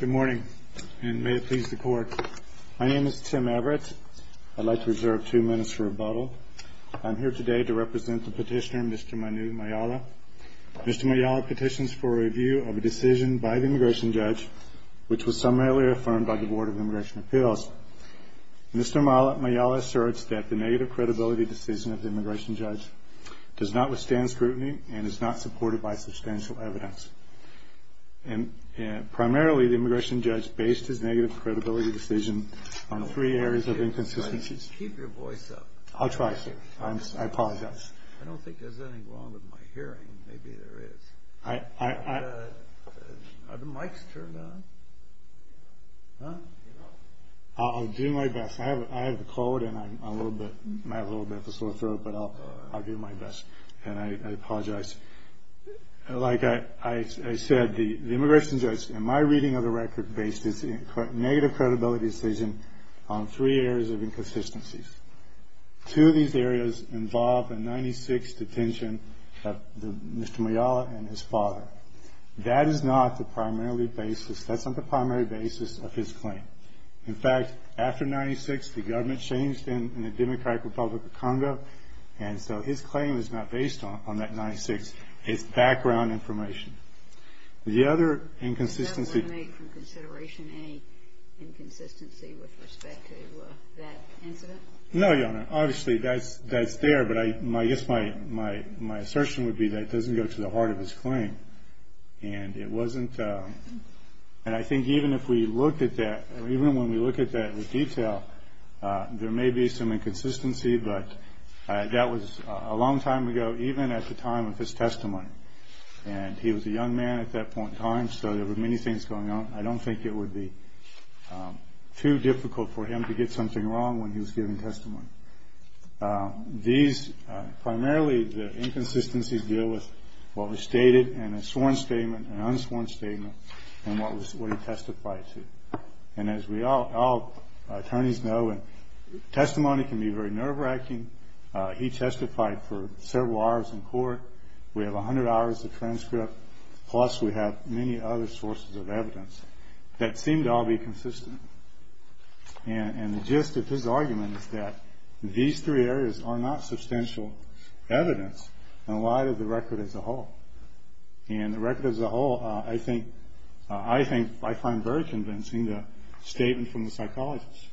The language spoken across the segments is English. Good morning, and may it please the court. My name is Tim Everett. I'd like to reserve two minutes for rebuttal. I'm here today to represent the petitioner, Mr. Manu Mayala. Mr. Mayala petitions for a review of a decision by the immigration judge, which was summarily affirmed by the Board of Immigration Appeals. Mr. Mayala asserts that the negative credibility decision of the immigration judge does not withstand scrutiny and is not supported by substantial evidence. Primarily, the immigration judge based his negative credibility decision on three areas of inconsistencies. Keep your voice up. I'll try, sir. I apologize. I don't think there's anything wrong with my hearing. Maybe there is. Are the mics turned on? I'll do my best. I have a cold and I might have a little bit of a sore throat, but I'll do my best. And I apologize. Like I said, the immigration judge, in my reading of the record, based his negative credibility decision on three areas of inconsistencies. Two of these areas involve a 1996 detention of Mr. Mayala and his father. That is not the primary basis. That's not the primary basis of his claim. In fact, after 1996, the government changed in the Democratic Republic of Congo, and so his claim is not based on that 1996. It's background information. The other inconsistency... Does that eliminate from consideration any inconsistency with respect to that incident? No, Your Honor. Obviously, that's there, but I guess my assertion would be that it doesn't go to the heart of his claim. And it wasn't... And I think even if we looked at that, even when we look at that in detail, there may be some inconsistency, but that was a long time ago, even at the time of his testimony. And he was a young man at that point in time, so there were many things going on. I don't think it would be too difficult for him to get something wrong when he was giving testimony. These... Primarily, the inconsistencies deal with what was stated in a sworn statement, an unsworn statement, and what he testified to. And as all attorneys know, testimony can be very nerve-wracking. He testified for several hours in court. We have 100 hours of transcript, plus we have many other sources of evidence that seem to all be consistent. And the gist of his argument is that these three areas are not substantial evidence in light of the record as a whole. And the record as a whole, I think, I find very convincing, the statement from the psychologist,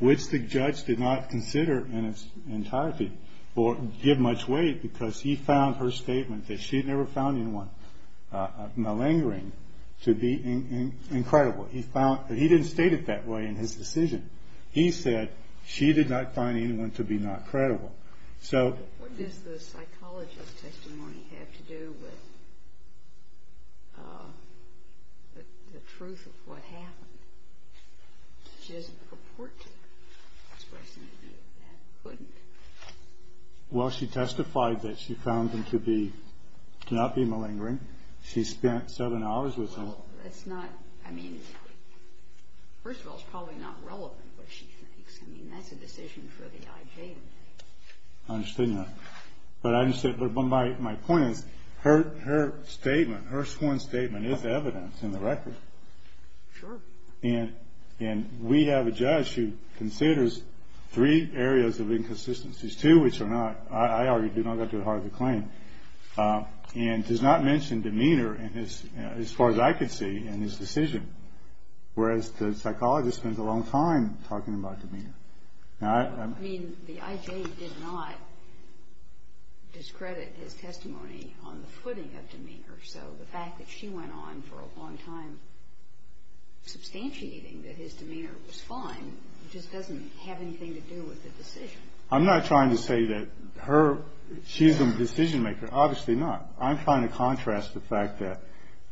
which the judge did not consider in its entirety or give much weight, because he found her statement that she'd never found anyone malingering to be incredible. He found... He didn't state it that way in his decision. He said she did not find anyone to be not credible. So... What does the psychologist's testimony have to do with the truth of what happened? She doesn't purport to express any view of that, couldn't. Well, she testified that she found them to be... to not be malingering. She spent seven hours with them. Well, that's not... I mean, first of all, it's probably not relevant what she thinks. I mean, that's a decision for the I.J. to make. I understand that. But I understand. But my point is, her statement, her sworn statement is evidence in the record. Sure. And we have a judge who considers three areas of inconsistencies, two which are not, I argue, do not go to the heart of the claim, and does not mention demeanor as far as I could see in his decision, whereas the psychologist spends a long time talking about demeanor. I mean, the I.J. did not discredit his testimony on the footing of demeanor. So the fact that she went on for a long time substantiating that his demeanor was fine just doesn't have anything to do with the decision. I'm not trying to say that her... she's a decision-maker. Obviously not. I'm trying to contrast the fact that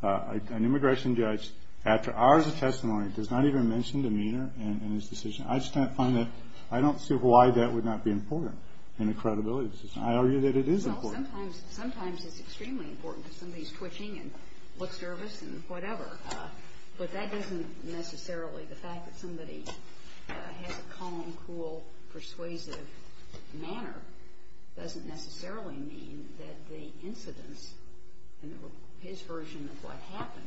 an immigration judge, after hours of testimony, does not even mention demeanor in his decision. I just can't find that... I don't see why that would not be important in a credibility decision. I argue that it is important. Well, sometimes it's extremely important because somebody's twitching and looks nervous and whatever. But that doesn't necessarily... the fact that somebody has a calm, cool, persuasive manner doesn't necessarily mean that the incidence in his version of what happened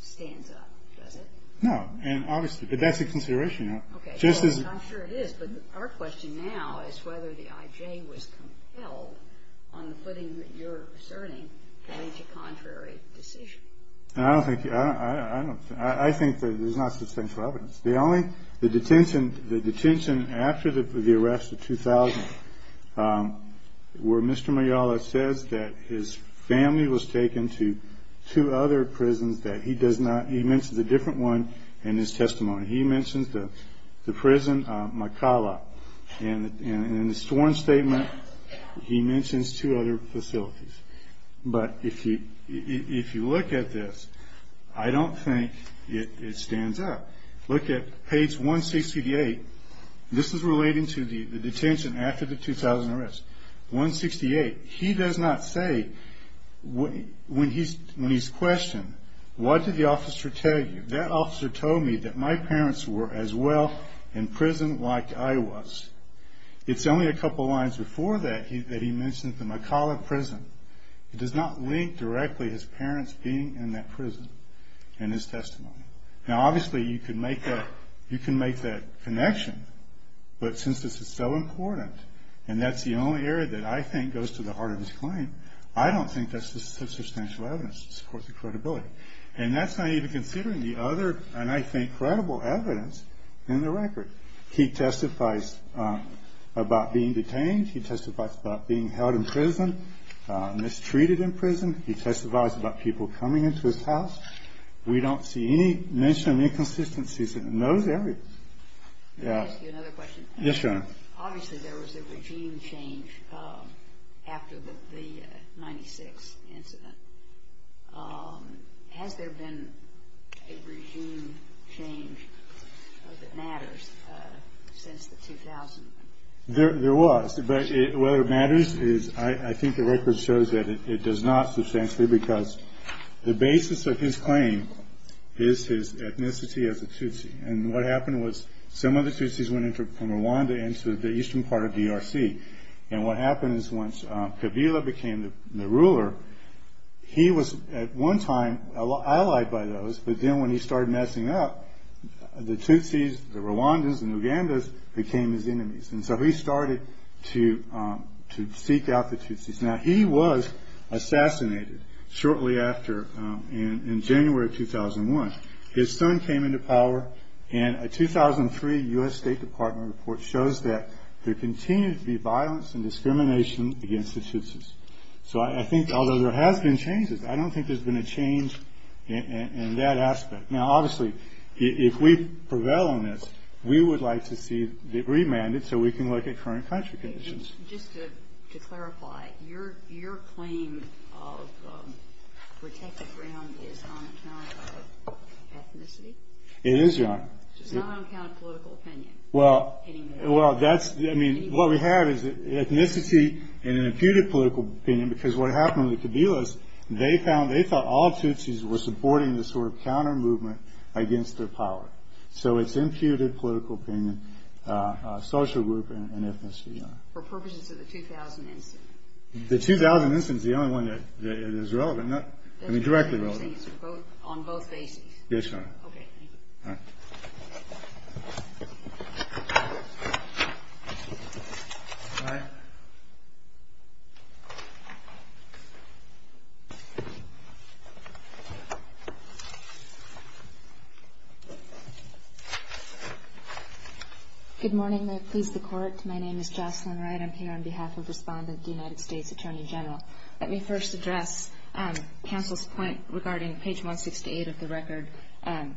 stands up, does it? No. And obviously, that's a consideration. Okay. I'm sure it is, but our question now is whether the I.J. was compelled, on the footing that you're asserting, to reach a contrary decision. I don't think... I think that there's not substantial evidence. The only... the detention... the detention after the arrest of 2000 where Mr. Mayala says that his family was taken to two other prisons that he does not... he mentions a different one in his testimony. He mentions the prison Makala. And in the sworn statement, he mentions two other facilities. But if you look at this, I don't think it stands up. Look at page 168. This is relating to the detention after the 2000 arrest. 168. He does not say when he's questioned, what did the officer tell you? That officer told me that my parents were as well in prison like I was. It's only a couple lines before that that he mentions the Makala prison. It does not link directly his parents being in that prison in his testimony. Now, obviously, you can make that connection, but since this is so important and that's the only area that I think goes to the heart of his claim, I don't think that's the substantial evidence to support the credibility. And that's not even considering the other, and I think, credible evidence in the record. He testifies about being detained. He testifies about being held in prison, mistreated in prison. He testifies about people coming into his house. We don't see any mention of inconsistencies in those areas. Yeah. Can I ask you another question? Yes, Your Honor. Obviously, there was a regime change after the 96 incident. Has there been a regime change that matters since the 2000? There was, but whether it matters is I think the record shows that it does not substantially because the basis of his claim is his ethnicity as a Tutsi. And what happened was some of the Tutsis went from Rwanda into the eastern part of DRC. And what happened is once Kabila became the ruler, he was at one time allied by those, but then when he started messing up, the Tutsis, the Rwandans, the Nugandas became his enemies. And so he started to seek out the Tutsis. Now, he was assassinated shortly after in January of 2001. His son came into power, and a 2003 U.S. State Department report shows that there continues to be violence and discrimination against the Tutsis. So I think, although there has been changes, I don't think there's been a change in that aspect. Now, obviously, if we prevail on this, we would like to see it remanded so we can look at current country conditions. Just to clarify, your claim of protected ground is on account of ethnicity? It is, Your Honor. It's not on account of political opinion? Well, that's, I mean, what we have is ethnicity and an imputed political opinion because what happened with the Kabilas, they thought all Tutsis were supporting this sort of counter-movement against their power. So it's imputed political opinion, social group, and ethnicity, Your Honor. For purposes of the 2000 instance? The 2000 instance is the only one that is relevant. I mean, directly relevant. On both bases? Yes, Your Honor. Okay, thank you. All right. Good morning. May it please the Court. My name is Jocelyn Wright. I'm here on behalf of Respondent of the United States Attorney General. Let me first address counsel's point regarding page 168 of the record on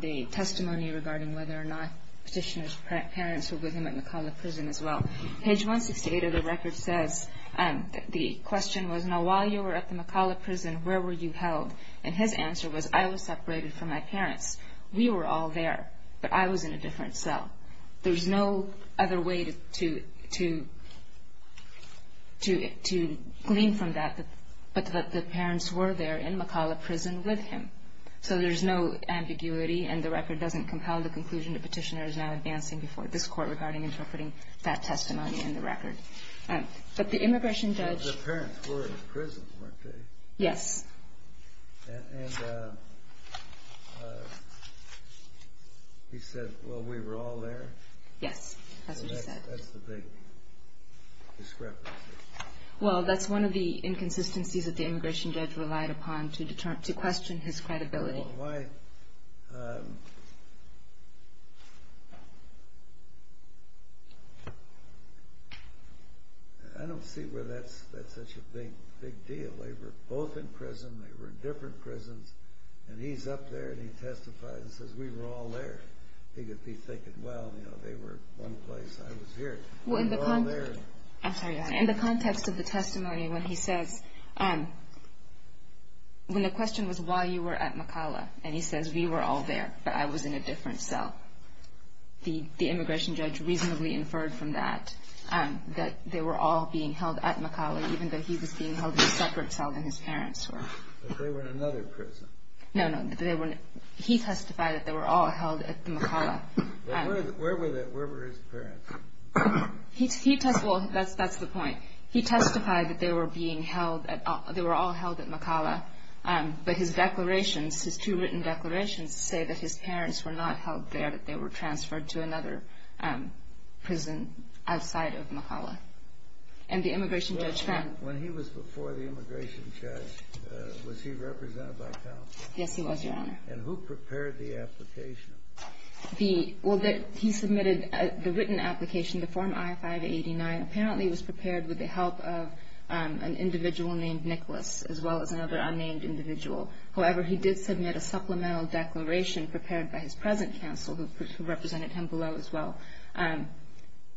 the testimony regarding whether or not Petitioner's parents were with him at McAuliffe Prison as well. Page 168 of the record says that the question was, now while you were at the McAuliffe Prison, where were you held? And his answer was, I was separated from my parents. We were all there, but I was in a different cell. There's no other way to glean from that but that the parents were there in McAuliffe Prison with him. So there's no ambiguity, and the record doesn't compel the conclusion that Petitioner is now advancing before this Court regarding interpreting that testimony in the record. But the immigration judge – But the parents were in prison, weren't they? Yes. And he said, well, we were all there? Yes, that's what he said. That's the big discrepancy. Well, that's one of the inconsistencies that the immigration judge relied upon to question his credibility. Well, why – I don't see where that's such a big deal. They were both in prison, they were in different prisons, and he's up there and he testifies and says, we were all there. He could be thinking, well, you know, they were at one place, I was here. In the context of the testimony, when he says – when the question was why you were at McAuliffe, and he says, we were all there, but I was in a different cell, the immigration judge reasonably inferred from that, that they were all being held at McAuliffe, even though he was being held in a separate cell than his parents were. But they were in another prison. No, no. He testified that they were all held at McAuliffe. Where were his parents? He testified – well, that's the point. He testified that they were being held at – they were all held at McAuliffe, but his declarations, his two written declarations say that his parents were not held there, that they were transferred to another prison outside of McAuliffe. And the immigration judge found – When he was before the immigration judge, was he represented by counsel? Yes, he was, Your Honor. And who prepared the application? Well, he submitted the written application, the Form I-589. Apparently, it was prepared with the help of an individual named Nicholas, as well as another unnamed individual. However, he did submit a supplemental declaration prepared by his present counsel, who represented him below as well,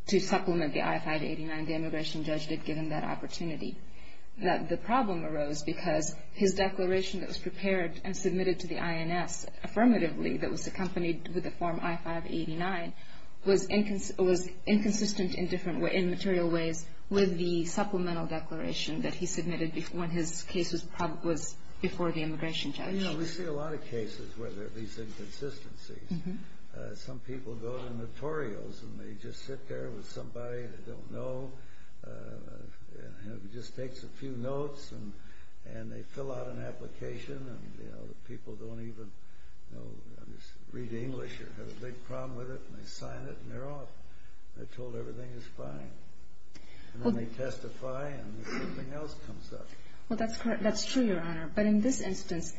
to supplement the I-589. The immigration judge did give him that opportunity. The problem arose because his declaration that was prepared and submitted to the INS, affirmatively, that was accompanied with the Form I-589, was inconsistent in material ways with the supplemental declaration that he submitted when his case was before the immigration judge. You know, we see a lot of cases where there are these inconsistencies. Some people go to notorials, and they just sit there with somebody they don't know, just takes a few notes, and they fill out an application, and the people don't even read English or have a big problem with it, and they sign it, and they're off. They're told everything is fine. And then they testify, and something else comes up. Well, that's true, Your Honor. But in this instance,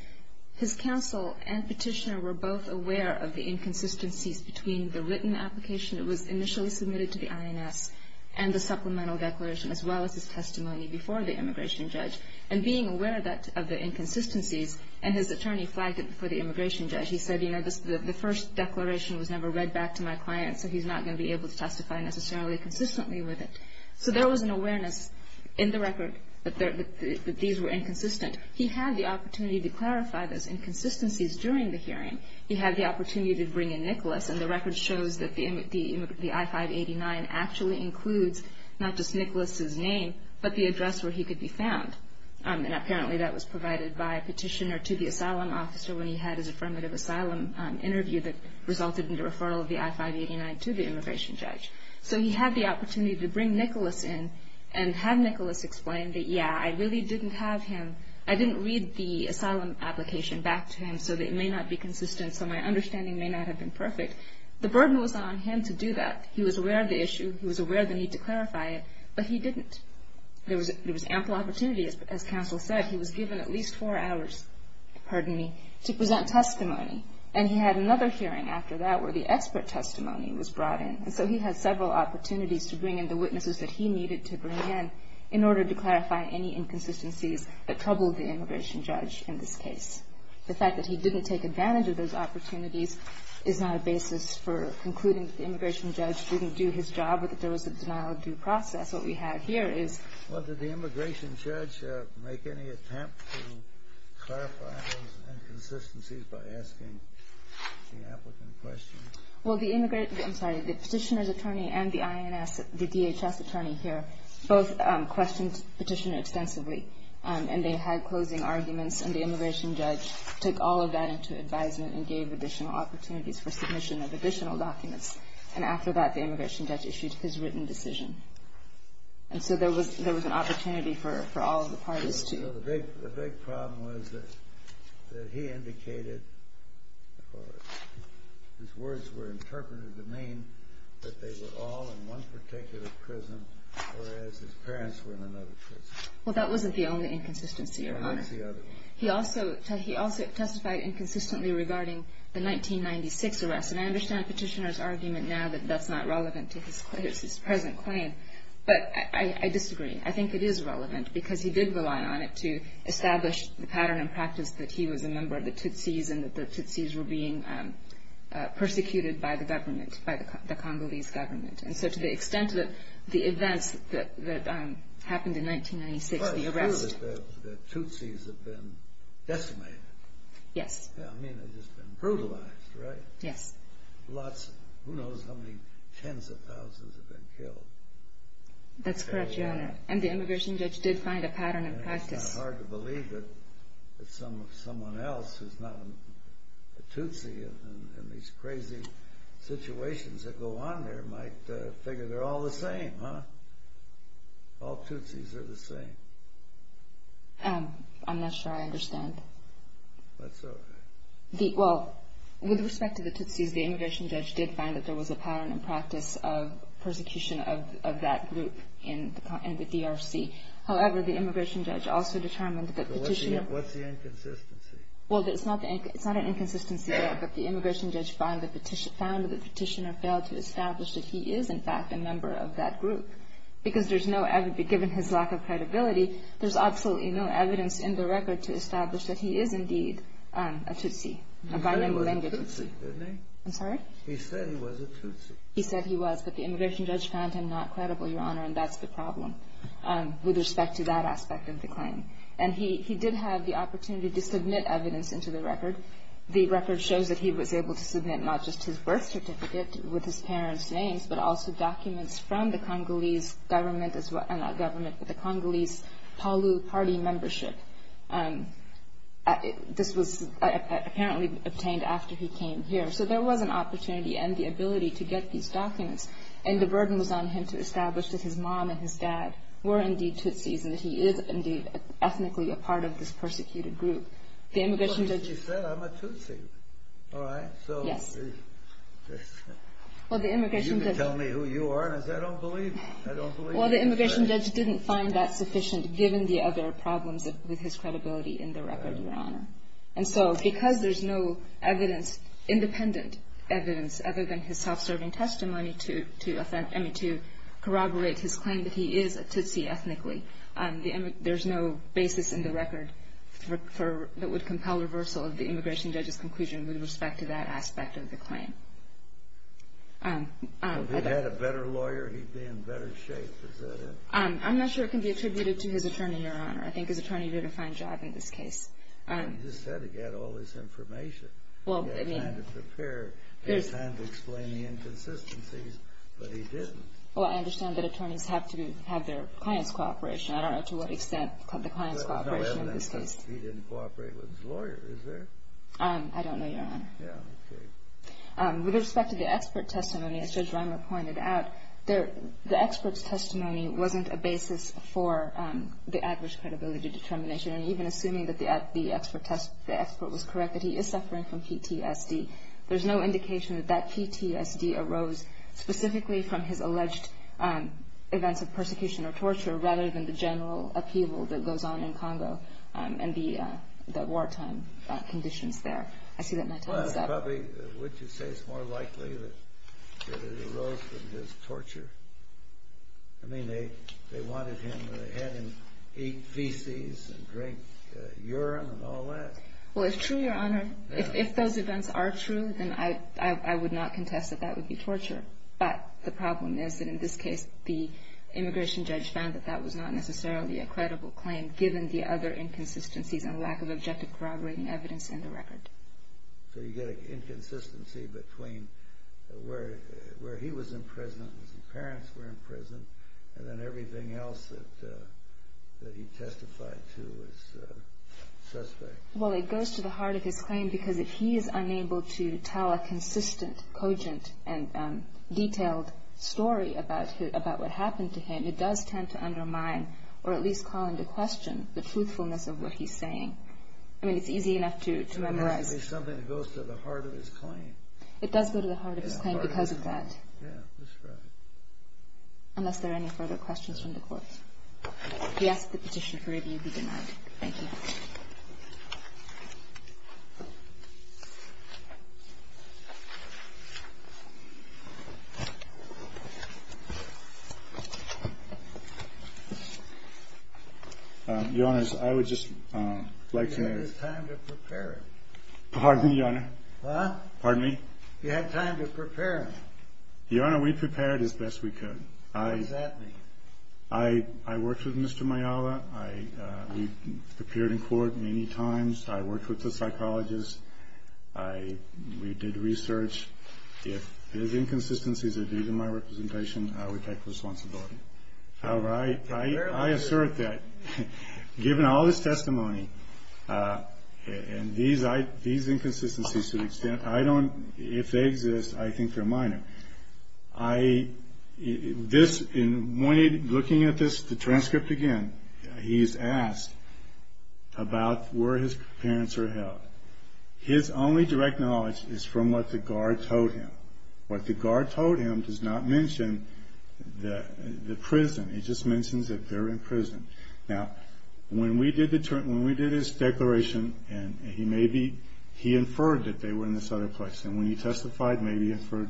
his counsel and petitioner were both aware of the inconsistencies between the written application that was initially submitted to the INS and the supplemental declaration, as well as his testimony before the immigration judge. And being aware of the inconsistencies, and his attorney flagged it before the immigration judge. He said, you know, the first declaration was never read back to my client, so he's not going to be able to testify necessarily consistently with it. So there was an awareness in the record that these were inconsistent. He had the opportunity to clarify those inconsistencies during the hearing. He had the opportunity to bring in Nicholas, and the record shows that the I-589 actually includes not just Nicholas's name, but the address where he could be found. And apparently that was provided by a petitioner to the asylum officer when he had his affirmative asylum interview that resulted in the referral of the I-589 to the immigration judge. So he had the opportunity to bring Nicholas in and have Nicholas explain that, yeah, I really didn't have him, I didn't read the asylum application back to him so that it may not be consistent, so my understanding may not have been perfect. The burden was on him to do that. He was aware of the issue, he was aware of the need to clarify it, but he didn't. There was ample opportunity, as counsel said. He was given at least four hours, pardon me, to present testimony. And he had another hearing after that where the expert testimony was brought in. And so he had several opportunities to bring in the witnesses that he needed to bring in in order to clarify any inconsistencies that troubled the immigration judge in this case. The fact that he didn't take advantage of those opportunities is not a basis for concluding that the immigration judge didn't do his job or that there was a denial-of-due process. What we have here is... Well, did the immigration judge make any attempt to clarify those inconsistencies by asking the applicant questions? Well, the immigrant, I'm sorry, the petitioner's attorney and the INS, the DHS attorney here, both questioned the petitioner extensively. And they had closing arguments, and the immigration judge took all of that into advisement and gave additional opportunities for submission of additional documents. And after that, the immigration judge issued his written decision. And so there was an opportunity for all of the parties to... The big problem was that he indicated, or his words were interpreted to mean, that they were all in one particular prison, whereas his parents were in another prison. Well, that wasn't the only inconsistency, Your Honor. No, what's the other one? He also testified inconsistently regarding the 1996 arrest. And I understand the petitioner's argument now that that's not relevant to his present claim. But I disagree. I think it is relevant because he did rely on it to establish the pattern and practice that he was a member of the Tutsis and that the Tutsis were being persecuted by the government, by the Congolese government. And so to the extent that the events that happened in 1996, the arrest... Decimated. Yes. I mean, they've just been brutalized, right? Yes. Lots, who knows how many tens of thousands have been killed. That's correct, Your Honor. And the immigration judge did find a pattern and practice. It's hard to believe that someone else who's not a Tutsi in these crazy situations that go on there might figure they're all the same, huh? All Tutsis are the same. I'm not sure I understand. That's okay. Well, with respect to the Tutsis, the immigration judge did find that there was a pattern and practice of persecution of that group in the DRC. However, the immigration judge also determined that the petitioner... So what's the inconsistency? Well, it's not an inconsistency there, but the immigration judge found that the petitioner failed to establish that he is, in fact, a member of that group. Because there's no evidence, given his lack of credibility, there's absolutely no evidence in the record to establish that he is, indeed, a Tutsi. He said he was a Tutsi, didn't he? I'm sorry? He said he was a Tutsi. He said he was, but the immigration judge found him not credible, Your Honor, and that's the problem with respect to that aspect of the claim. And he did have the opportunity to submit evidence into the record. The record shows that he was able to submit not just his birth certificate with his parents' names, but also documents from the Congolese government, not government, but the Congolese Palu Party membership. This was apparently obtained after he came here. So there was an opportunity and the ability to get these documents, and the burden was on him to establish that his mom and his dad were, indeed, Tutsis, and that he is, indeed, ethnically a part of this persecuted group. But he said, I'm a Tutsi, all right? Yes. You can tell me who you are, and I say, I don't believe you. Well, the immigration judge didn't find that sufficient, given the other problems with his credibility in the record, Your Honor. And so because there's no evidence, independent evidence, other than his self-serving testimony to corroborate his claim that he is a Tutsi ethnically, there's no basis in the record that would compel reversal of the immigration judge's conclusion with respect to that aspect of the claim. If he'd had a better lawyer, he'd be in better shape, is that it? I'm not sure it can be attributed to his attorney, Your Honor. I think his attorney did a fine job in this case. You just said he had all this information. He had time to prepare. He had time to explain the inconsistencies, but he didn't. Well, I understand that attorneys have to have their client's cooperation. I don't know to what extent the client's cooperation in this case. There's no evidence that he didn't cooperate with his lawyer, is there? I don't know, Your Honor. Yeah, okay. With respect to the expert testimony, as Judge Reimer pointed out, the expert's testimony wasn't a basis for the average credibility determination. And even assuming that the expert was correct, that he is suffering from PTSD, there's no indication that that PTSD arose specifically from his alleged events of persecution or torture rather than the general upheaval that goes on in Congo and the wartime conditions there. I see that my time is up. Well, probably, would you say it's more likely that it arose from his torture? I mean, they wanted him to go ahead and eat feces and drink urine and all that. Well, it's true, Your Honor. If those events are true, then I would not contest that that would be torture. But the problem is that in this case, the immigration judge found that that was not necessarily a credible claim given the other inconsistencies and lack of objective corroborating evidence in the record. So you get an inconsistency between where he was in prison, his parents were in prison, and then everything else that he testified to as a suspect. Well, it goes to the heart of his claim because if he is unable to tell a consistent, cogent, and detailed story about what happened to him, it does tend to undermine or at least call into question the truthfulness of what he's saying. I mean, it's easy enough to memorize. It doesn't have to be something that goes to the heart of his claim. It does go to the heart of his claim because of that. Yeah, that's right. Unless there are any further questions from the court. We ask that the petition for review be denied. Thank you. Your Honors, I would just like to... You had time to prepare it. Pardon me, Your Honor? Huh? Pardon me? You had time to prepare it. Your Honor, we prepared it as best we could. What does that mean? I worked with Mr. Mayala. We appeared in court many times. I worked with the psychologist. We did research. If there's inconsistencies that are due to my representation, I would take responsibility. However, I assert that given all this testimony and these inconsistencies to the extent I don't... If they exist, I think they're minor. In looking at this transcript again, he's asked about where his parents are held. His only direct knowledge is from what the guard told him. What the guard told him does not mention the prison. It just mentions that they're in prison. Now, when we did his declaration, he inferred that they were in this other place. When he testified, maybe he inferred...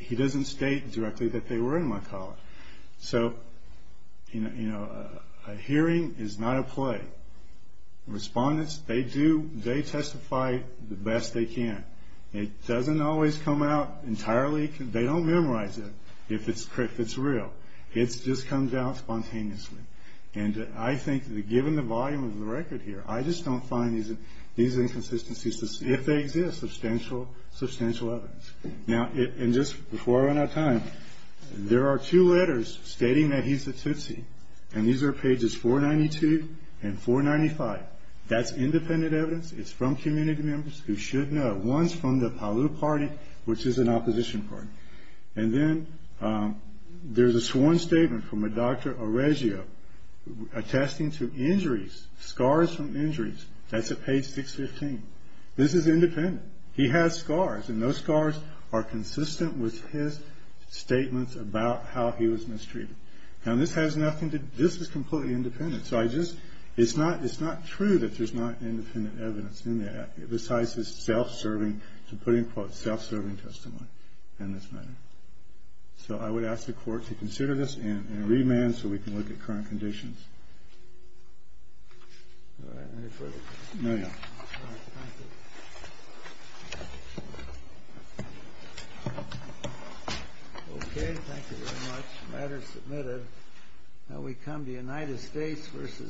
He doesn't state directly that they were in my college. A hearing is not a play. Respondents, they testify the best they can. It doesn't always come out entirely... They don't memorize it if it's real. It just comes out spontaneously. I think that given the volume of the record here, I just don't find these inconsistencies... If they exist, substantial evidence. Now, just before I run out of time, there are two letters stating that he's a Tutsi. These are pages 492 and 495. That's independent evidence. It's from community members who should know. One's from the Palau Party, which is an opposition party. Then there's a sworn statement from a Dr. Oregio attesting to injuries, scars from injuries. That's at page 615. This is independent. He has scars, and those scars are consistent with his statements about how he was mistreated. Now, this has nothing to... This is completely independent, so I just... It's not true that there's not independent evidence in that, besides his self-serving, to put it in quotes, self-serving testimony in this matter. So I would ask the court to consider this in remand so we can look at current conditions. All right. Any further questions? No, no. All right. Thank you. Okay. Thank you very much. The matter is submitted. Now we come to United States v. City of Santa Monica.